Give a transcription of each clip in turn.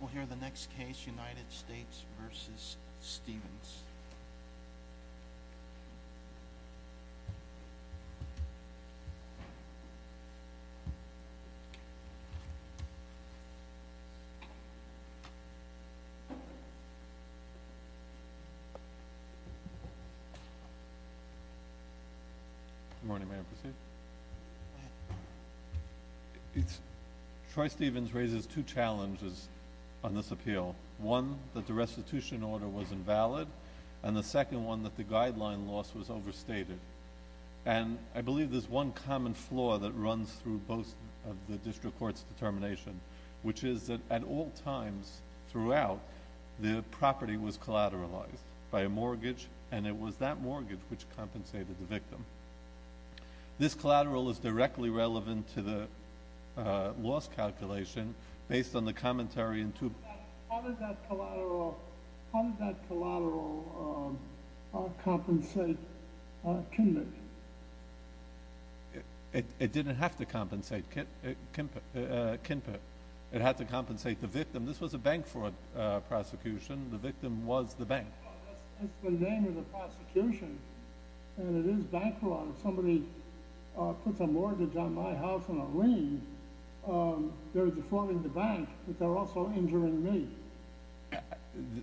We'll hear the next case, United States v. Stevens. Good morning, may I proceed? Troy Stevens raises two challenges on this appeal. One, that the restitution order was invalid, and the second one, that the guideline loss was overstated. And I believe there's one common flaw that runs through both of the district court's determination, which is that at all times throughout, the property was collateralized by a mortgage, and it was that mortgage which compensated the victim. This collateral is directly relevant to the loss calculation, based on the commentary in two… How did that collateral compensate Kinpert? It didn't have to compensate Kinpert. It had to compensate the victim. This was a bank fraud prosecution. The victim was the bank. That's the name of the prosecution, and it is bank fraud. If somebody puts a mortgage on my house on a lien, they're defrauding the bank, but they're also injuring me.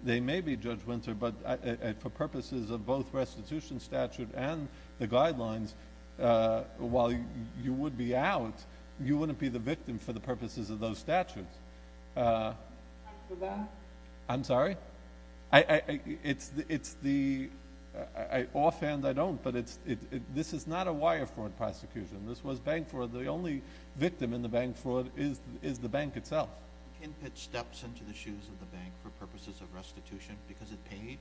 They may be, Judge Winter, but for purposes of both restitution statute and the guidelines, while you would be out, you wouldn't be the victim for the purposes of those statutes. I'm sorry? Offhand, I don't, but this is not a wire fraud prosecution. This was bank fraud. The only victim in the bank fraud is the bank itself. Kinpert steps into the shoes of the bank for purposes of restitution because it paid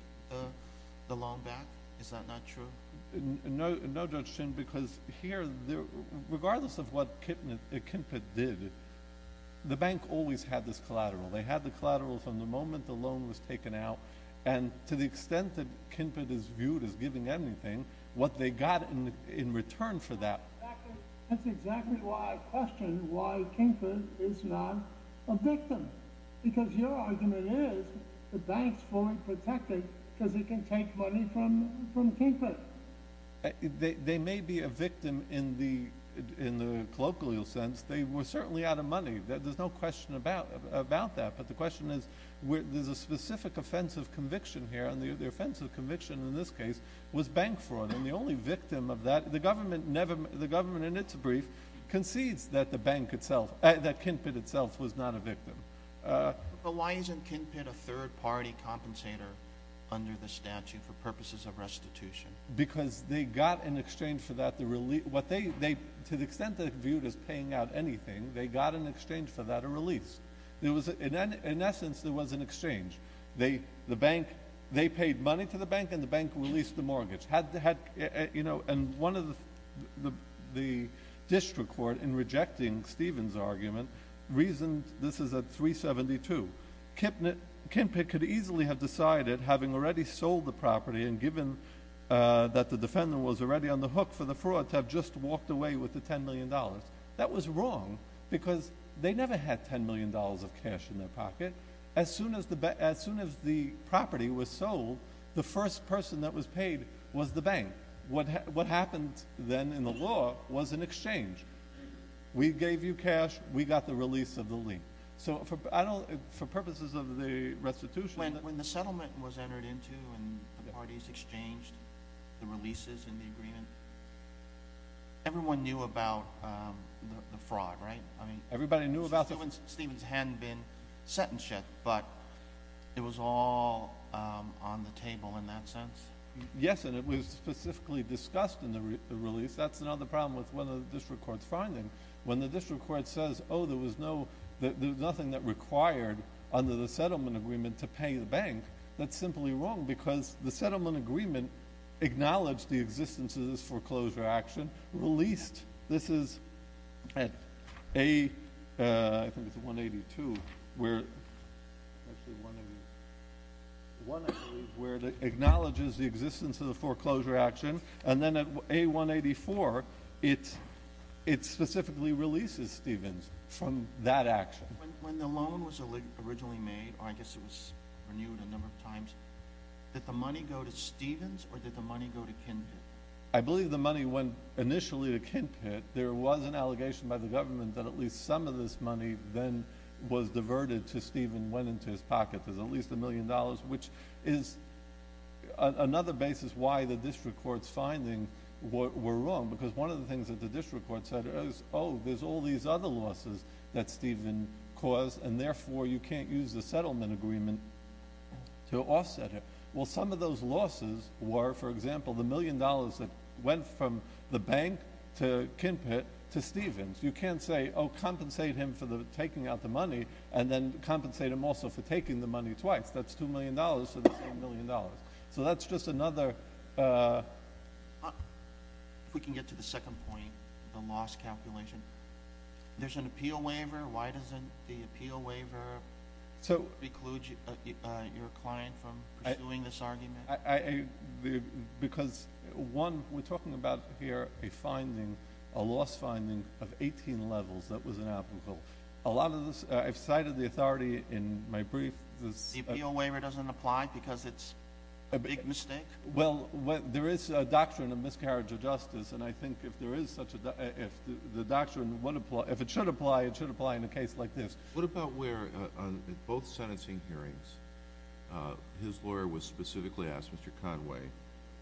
the loan back? Is that not true? No, Judge Shin, because here, regardless of what Kinpert did, the bank always had this collateral. They had the collateral from the moment the loan was taken out, and to the extent that Kinpert is viewed as giving anything, what they got in return for that… That's exactly why I question why Kinpert is not a victim, because your argument is the bank's fully protected because it can take money from Kinpert. They may be a victim in the colloquial sense. They were certainly out of money. There's no question about that, but the question is there's a specific offense of conviction here, and the offense of conviction in this case was bank fraud, and the only victim of that… The government, in its brief, concedes that Kinpert itself was not a victim. But why isn't Kinpert a third-party compensator under the statute for purposes of restitution? Because they got in exchange for that… To the extent they're viewed as paying out anything, they got in exchange for that a release. In essence, there was an exchange. They paid money to the bank, and the bank released the mortgage. One of the district court, in rejecting Stephen's argument, reasoned this is at 372. Kinpert could easily have decided, having already sold the property and given that the defendant was already on the hook for the fraud, to have just walked away with the $10 million. That was wrong because they never had $10 million of cash in their pocket. As soon as the property was sold, the first person that was paid was the bank. What happened then in the law was an exchange. We gave you cash. We got the release of the lien. For purposes of the restitution… When the settlement was entered into and the parties exchanged the releases in the agreement, everyone knew about the fraud, right? Everybody knew about the… Stephen hadn't been sentenced yet, but it was all on the table in that sense. Yes, and it was specifically discussed in the release. That's another problem with one of the district court's findings. When the district court says, oh, there was nothing that required, under the settlement agreement, to pay the bank, that's simply wrong because the settlement agreement acknowledged the existence of this foreclosure action, released. This is at A182, where it acknowledges the existence of the foreclosure action, and then at A184, it specifically releases Stephens from that action. When the loan was originally made, I guess it was renewed a number of times, did the money go to Stephens or did the money go to Kinty? I believe the money went initially to Kinty. There was an allegation by the government that at least some of this money then was diverted to Stephen, went into his pocket. There's at least $1 million, which is another basis why the district court's findings were wrong because one of the things that the district court said was, oh, there's all these other losses that Stephen caused, and therefore you can't use the settlement agreement to offset it. Well, some of those losses were, for example, the $1 million that went from the bank to Kinty to Stephens. You can't say, oh, compensate him for taking out the money and then compensate him also for taking the money twice. That's $2 million, so that's $1 million. So that's just another— If we can get to the second point, the loss calculation. There's an appeal waiver. Why doesn't the appeal waiver preclude your client from pursuing this argument? Because, one, we're talking about here a finding, a loss finding of 18 levels that was inapplicable. A lot of this—I've cited the authority in my brief. The appeal waiver doesn't apply because it's a big mistake? Well, there is a doctrine of miscarriage of justice, and I think if there is such a—if the doctrine would apply—if it should apply, it should apply in a case like this. What about where, on both sentencing hearings, his lawyer was specifically asked, Mr. Conway,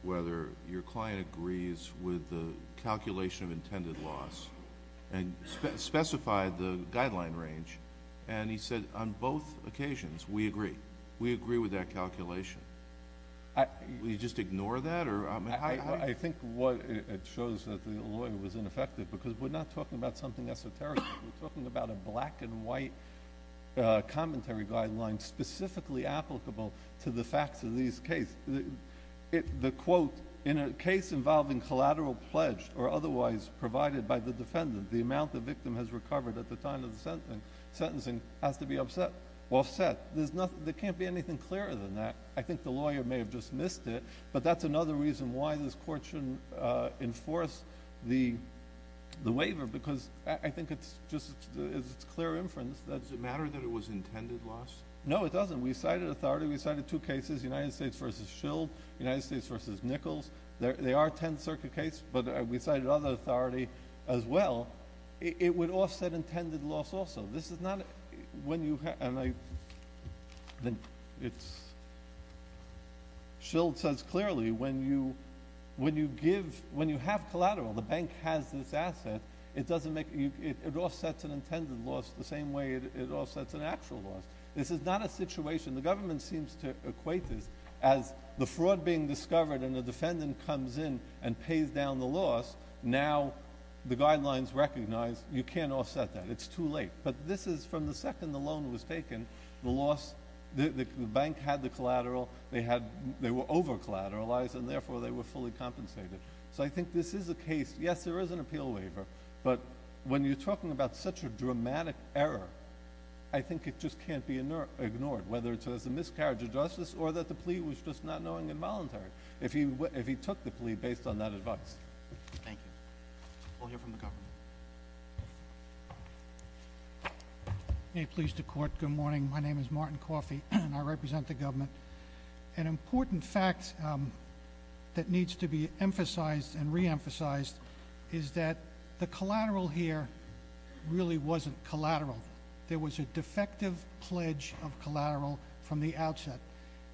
whether your client agrees with the calculation of intended loss and specified the guideline range, and he said, on both occasions, we agree. We agree with that calculation. Will you just ignore that? I think it shows that the lawyer was ineffective because we're not talking about something esoteric. We're talking about a black-and-white commentary guideline specifically applicable to the facts of these cases. The quote, in a case involving collateral pledged or otherwise provided by the defendant, the amount the victim has recovered at the time of the sentencing has to be offset. There can't be anything clearer than that. I think the lawyer may have just missed it, but that's another reason why this Court shouldn't enforce the waiver because I think it's just—it's clear inference that— Does it matter that it was intended loss? No, it doesn't. We cited authority. We cited two cases, United States v. Shield, United States v. Nichols. They are 10th Circuit cases, but we cited other authority as well. It would offset intended loss also. This is not—when you—and I—it's—Shield says clearly when you give—when you have collateral, the bank has this asset, it doesn't make—it offsets an intended loss the same way it offsets an actual loss. This is not a situation—the government seems to equate this as the fraud being discovered and the defendant comes in and pays down the loss. Now, the guidelines recognize you can't offset that. It's too late. But this is—from the second the loan was taken, the loss—the bank had the collateral. They had—they were over-collateralized, and therefore, they were fully compensated. So I think this is a case—yes, there is an appeal waiver, but when you're talking about such a dramatic error, I think it just can't be ignored, whether it's as a miscarriage of justice or that the plea was just not knowing and voluntary, if he took the plea based on that advice. Thank you. We'll hear from the government. May it please the Court, good morning. My name is Martin Coffey, and I represent the government. An important fact that needs to be emphasized and reemphasized is that the collateral here really wasn't collateral. There was a defective pledge of collateral from the outset,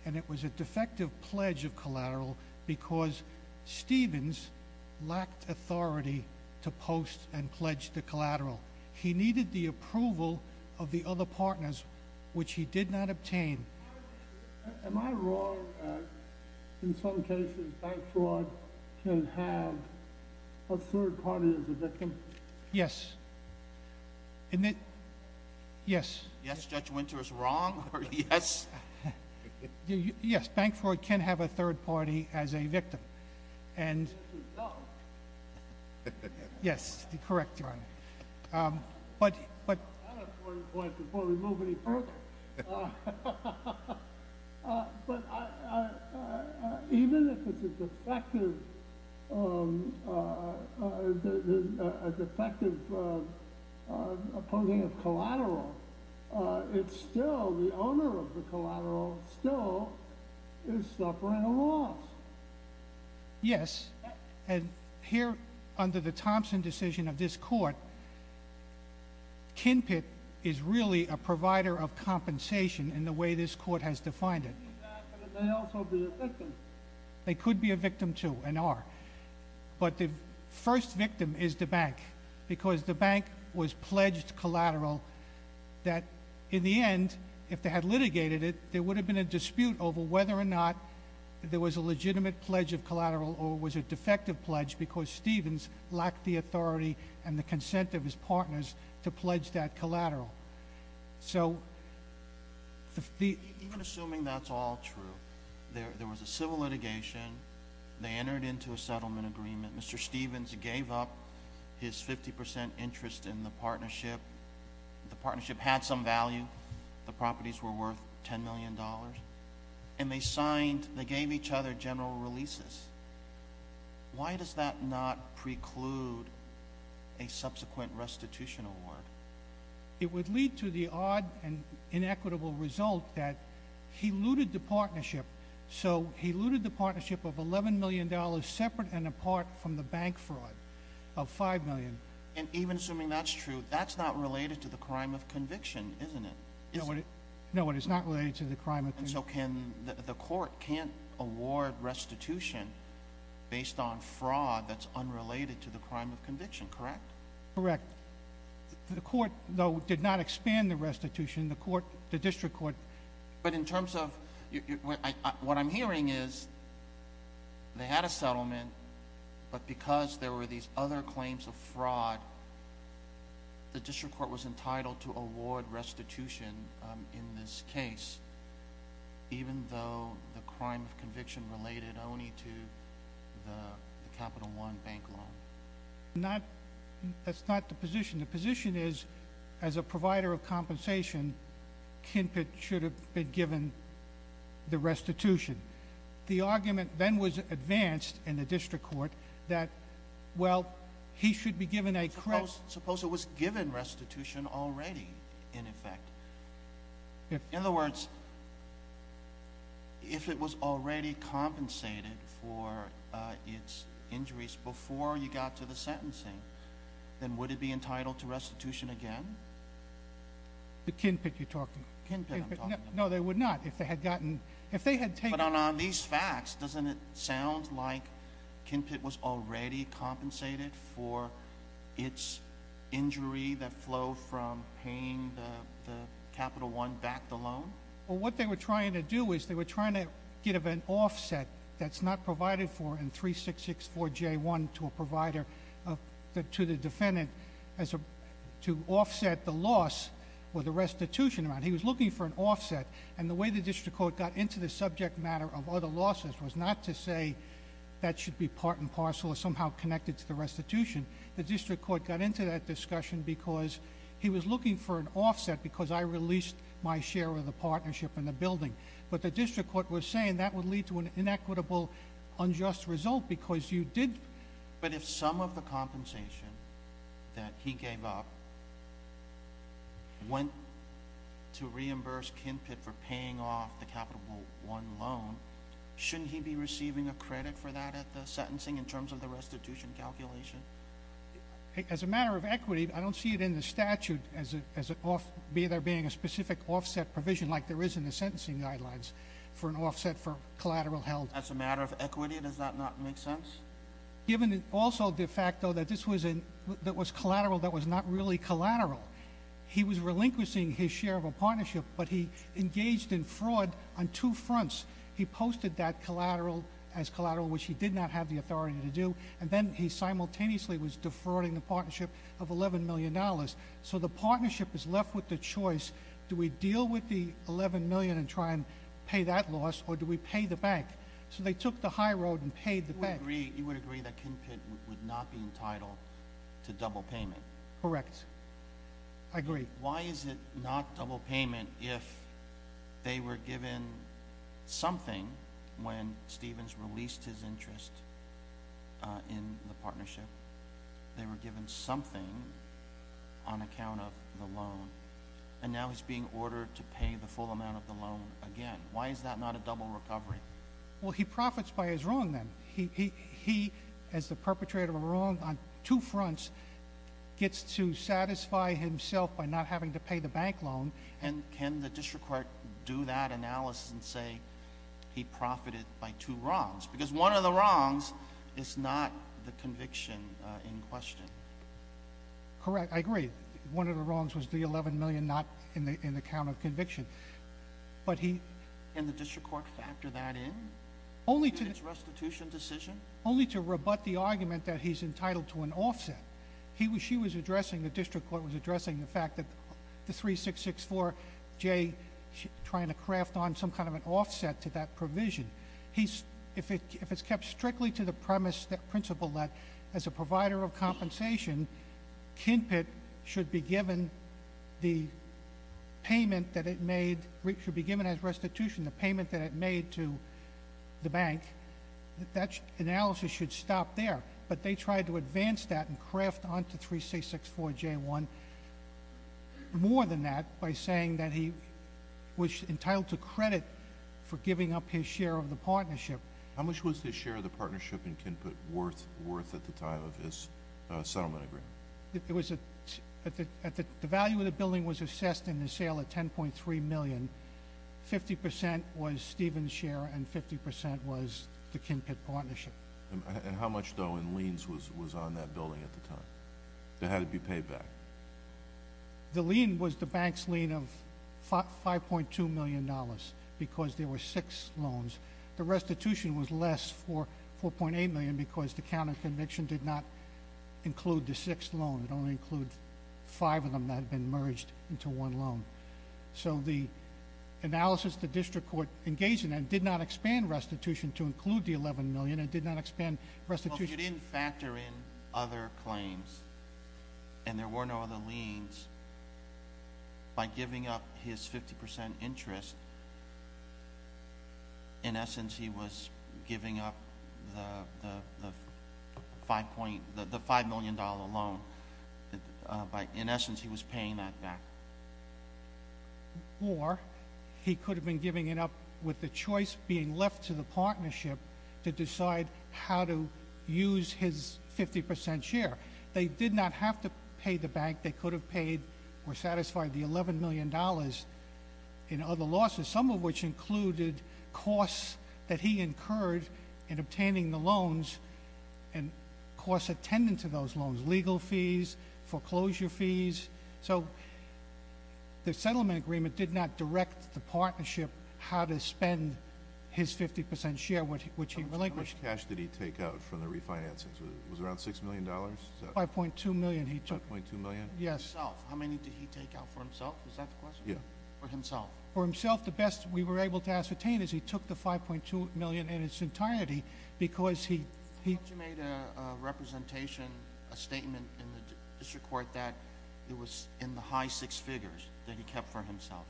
and it was a defective pledge of collateral because Stevens lacked authority to post and pledge the collateral. He needed the approval of the other partners, which he did not obtain. Yes. Yes. Yes, Judge Winter is wrong. Yes. Yes, Bankford can have a third party as a victim. And— Yes, correct, Your Honor. But— I have 40 points before we move any further. But even if it's a defective opposing of collateral, it's still—the owner of the collateral still is suffering a loss. Yes. And here, under the Thompson decision of this Court, Kinpit is really a provider of compensation in the way this Court has defined it. They could be a victim, too, and are. But the first victim is the bank, because the bank was pledged collateral that, in the end, if they had litigated it, there would have been a dispute over whether or not there was a legitimate pledge of collateral or was it a defective pledge because Stevens lacked the authority and the consent of his partners to pledge that collateral. Even assuming that's all true, there was a civil litigation. They entered into a settlement agreement. Mr. Stevens gave up his 50% interest in the partnership. The partnership had some value. The properties were worth $10 million. And they signed—they gave each other general releases. Why does that not preclude a subsequent restitution award? It would lead to the odd and inequitable result that he looted the partnership. So he looted the partnership of $11 million separate and apart from the bank fraud of $5 million. And even assuming that's true, that's not related to the crime of conviction, isn't it? No, it is not related to the crime of conviction. So the Court can't award restitution based on fraud that's unrelated to the crime of conviction, correct? Correct. The Court, though, did not expand the restitution. The District Court— But in terms of—what I'm hearing is they had a settlement, but because there were these other claims of fraud, the District Court was entitled to award restitution in this case, even though the crime of conviction related only to the Capital One bank loan. That's not the position. The position is, as a provider of compensation, Kinpit should have been given the restitution. The argument then was advanced in the District Court that, well, he should be given a— Suppose it was given restitution already, in effect. In other words, if it was already compensated for its injuries before you got to the sentencing, then would it be entitled to restitution again? The Kinpit you're talking about? The Kinpit I'm talking about. No, they would not if they had gotten—if they had taken— But on these facts, doesn't it sound like Kinpit was already compensated for its injury that flowed from paying the Capital One bank loan? Well, what they were trying to do is they were trying to get an offset that's not provided for in 3664J1 to a provider, to the defendant, to offset the loss or the restitution amount. He was looking for an offset, and the way the District Court got into the subject matter of other losses was not to say that should be part and parcel or somehow connected to the restitution. The District Court got into that discussion because he was looking for an offset because I released my share of the partnership in the building. But the District Court was saying that would lead to an inequitable, unjust result because you did— But if some of the compensation that he gave up went to reimburse Kinpit for paying off the Capital One loan, shouldn't he be receiving a credit for that at the sentencing in terms of the restitution calculation? As a matter of equity, I don't see it in the statute as it— there being a specific offset provision like there is in the sentencing guidelines for an offset for collateral held. As a matter of equity, does that not make sense? Given also de facto that this was collateral that was not really collateral, he was relinquishing his share of a partnership, but he engaged in fraud on two fronts. He posted that collateral as collateral, which he did not have the authority to do, and then he simultaneously was defrauding the partnership of $11 million. So the partnership is left with a choice. Do we deal with the $11 million and try and pay that loss, or do we pay the bank? So they took the high road and paid the bank. You would agree that Kinpit would not be entitled to double payment? Correct. I agree. Why is it not double payment if they were given something when Stevens released his interest in the partnership? They were given something on account of the loan, and now he's being ordered to pay the full amount of the loan again. Why is that not a double recovery? Well, he profits by his wrong then. He, as the perpetrator of a wrong on two fronts, gets to satisfy himself by not having to pay the bank loan. And can the district court do that analysis and say he profited by two wrongs? Because one of the wrongs is not the conviction in question. Correct. I agree. One of the wrongs was the $11 million not in the count of conviction. Can the district court factor that in? Only to rebut the argument that he's entitled to an offset. She was addressing, the district court was addressing the fact that the 3664, Jay trying to craft on some kind of an offset to that provision. If it's kept strictly to the premise that principle that as a provider of compensation, Kinpit should be given the payment that it made, should be given as restitution, the payment that it made to the bank, that analysis should stop there. But they tried to advance that and craft onto 3664J1 more than that by saying that he was entitled to credit for giving up his share of the partnership. How much was his share of the partnership in Kinpit worth at the time of his settlement agreement? The value of the building was assessed in the sale at $10.3 million. 50% was Stephen's share and 50% was the Kinpit partnership. And how much, though, in liens was on that building at the time? How did it be paid back? The lien was the bank's lien of $5.2 million because there were six loans. The restitution was less for $4.8 million because the counterconviction did not include the sixth loan. It only included five of them that had been merged into one loan. So the analysis the district court engaged in did not expand restitution to include the $11 million. It did not expand restitution- And there were no other liens. By giving up his 50% interest, in essence, he was giving up the $5 million loan. In essence, he was paying that back. Or he could have been giving it up with the choice being left to the partnership to decide how to use his 50% share. They did not have to pay the bank. They could have paid or satisfied the $11 million in other losses, some of which included costs that he incurred in obtaining the loans and costs attendant to those loans, legal fees, foreclosure fees. So the settlement agreement did not direct the partnership how to spend his 50% share, which he relinquished. How much cash did he take out from the refinancing? Was it around $6 million? $5.2 million he took. $5.2 million? Yes. How many did he take out for himself? Is that the question? Yes. For himself? For himself, the best we were able to ascertain is he took the $5.2 million in its entirety because he- Did he make a representation, a statement in the district court that it was in the high six figures that he kept for himself?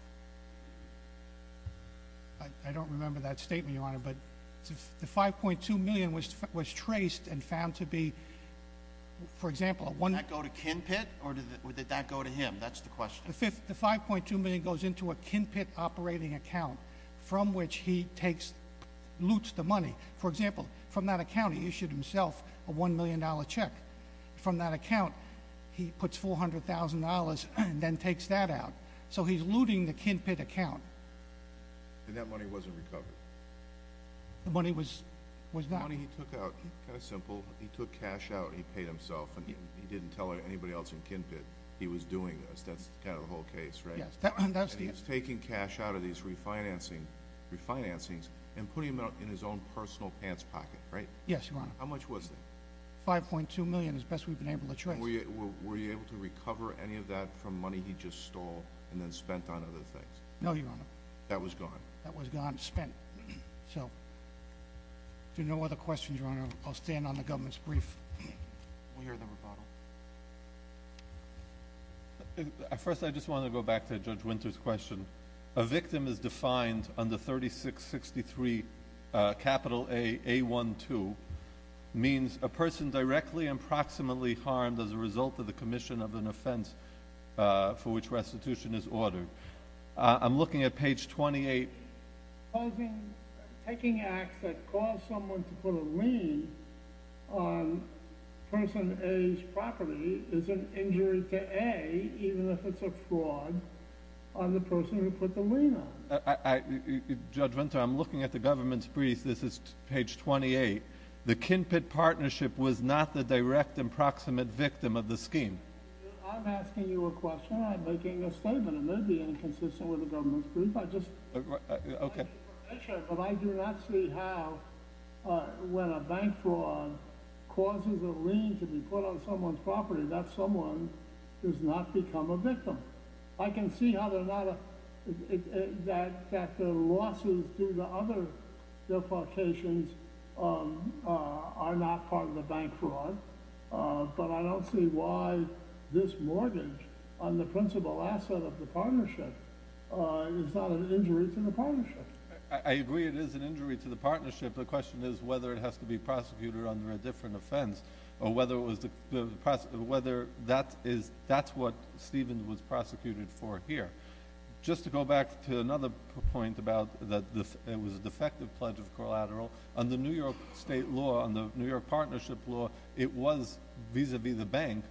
I don't remember that statement, Your Honor, but the $5.2 million was traced and found to be, for example- Did that go to Kinpit or did that go to him? That's the question. The $5.2 million goes into a Kinpit operating account from which he takes, loots the money. For example, from that account, he issued himself a $1 million check. From that account, he puts $400,000 and then takes that out, so he's looting the Kinpit account. And that money wasn't recovered? The money was not. The money he took out, kind of simple, he took cash out and he paid himself and he didn't tell anybody else in Kinpit he was doing this. That's kind of the whole case, right? Yes. And he was taking cash out of these refinancings and putting them in his own personal pants pocket, right? Yes, Your Honor. How much was that? $5.2 million, as best we've been able to trace. Were you able to recover any of that from money he just stole and then spent on other things? No, Your Honor. That was gone? That was gone, spent. So, if there are no other questions, Your Honor, I'll stand on the government's brief. We'll hear the rebuttal. First, I just want to go back to Judge Winter's question. A victim is defined under 3663, capital A, A1-2, means a person directly and proximately harmed as a result of the commission of an offense for which restitution is ordered. I'm looking at page 28. Taking acts that cause someone to put a lien on person A's property is an injury to A, even if it's a fraud on the person who put the lien on. Judge Winter, I'm looking at the government's brief. This is page 28. The Kinpit partnership was not the direct and proximate victim of the scheme. I'm asking you a question. I'm not making a statement. It may be inconsistent with the government's brief. I just— Okay. But I do not see how, when a bank fraud causes a lien to be put on someone's property, that someone does not become a victim. I can see how they're not—that the losses to the other defamations are not part of the bank fraud, but I don't see why this mortgage on the principal asset of the partnership is not an injury to the partnership. I agree it is an injury to the partnership. The question is whether it has to be prosecuted under a different offense or whether that's what Stevens was prosecuted for here. Just to go back to another point about that it was a defective pledge of collateral, under New York state law, under New York partnership law, it was, vis-à-vis the bank,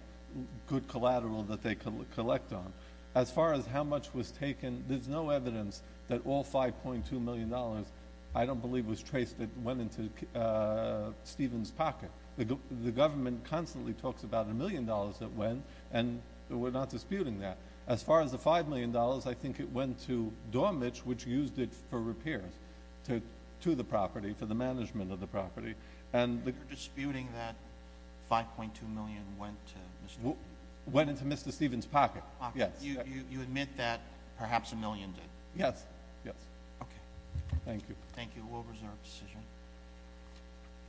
good collateral that they could collect on. As far as how much was taken, there's no evidence that all $5.2 million, I don't believe was traced, went into Stevens' pocket. The government constantly talks about a million dollars that went, and we're not disputing that. As far as the $5 million, I think it went to Dormich, which used it for repairs to the property, for the management of the property. You're disputing that $5.2 million went to Mr. Stevens? To Stevens' pocket, yes. You admit that perhaps a million did? Yes, yes. Okay. Thank you. Thank you. We'll reserve the decision.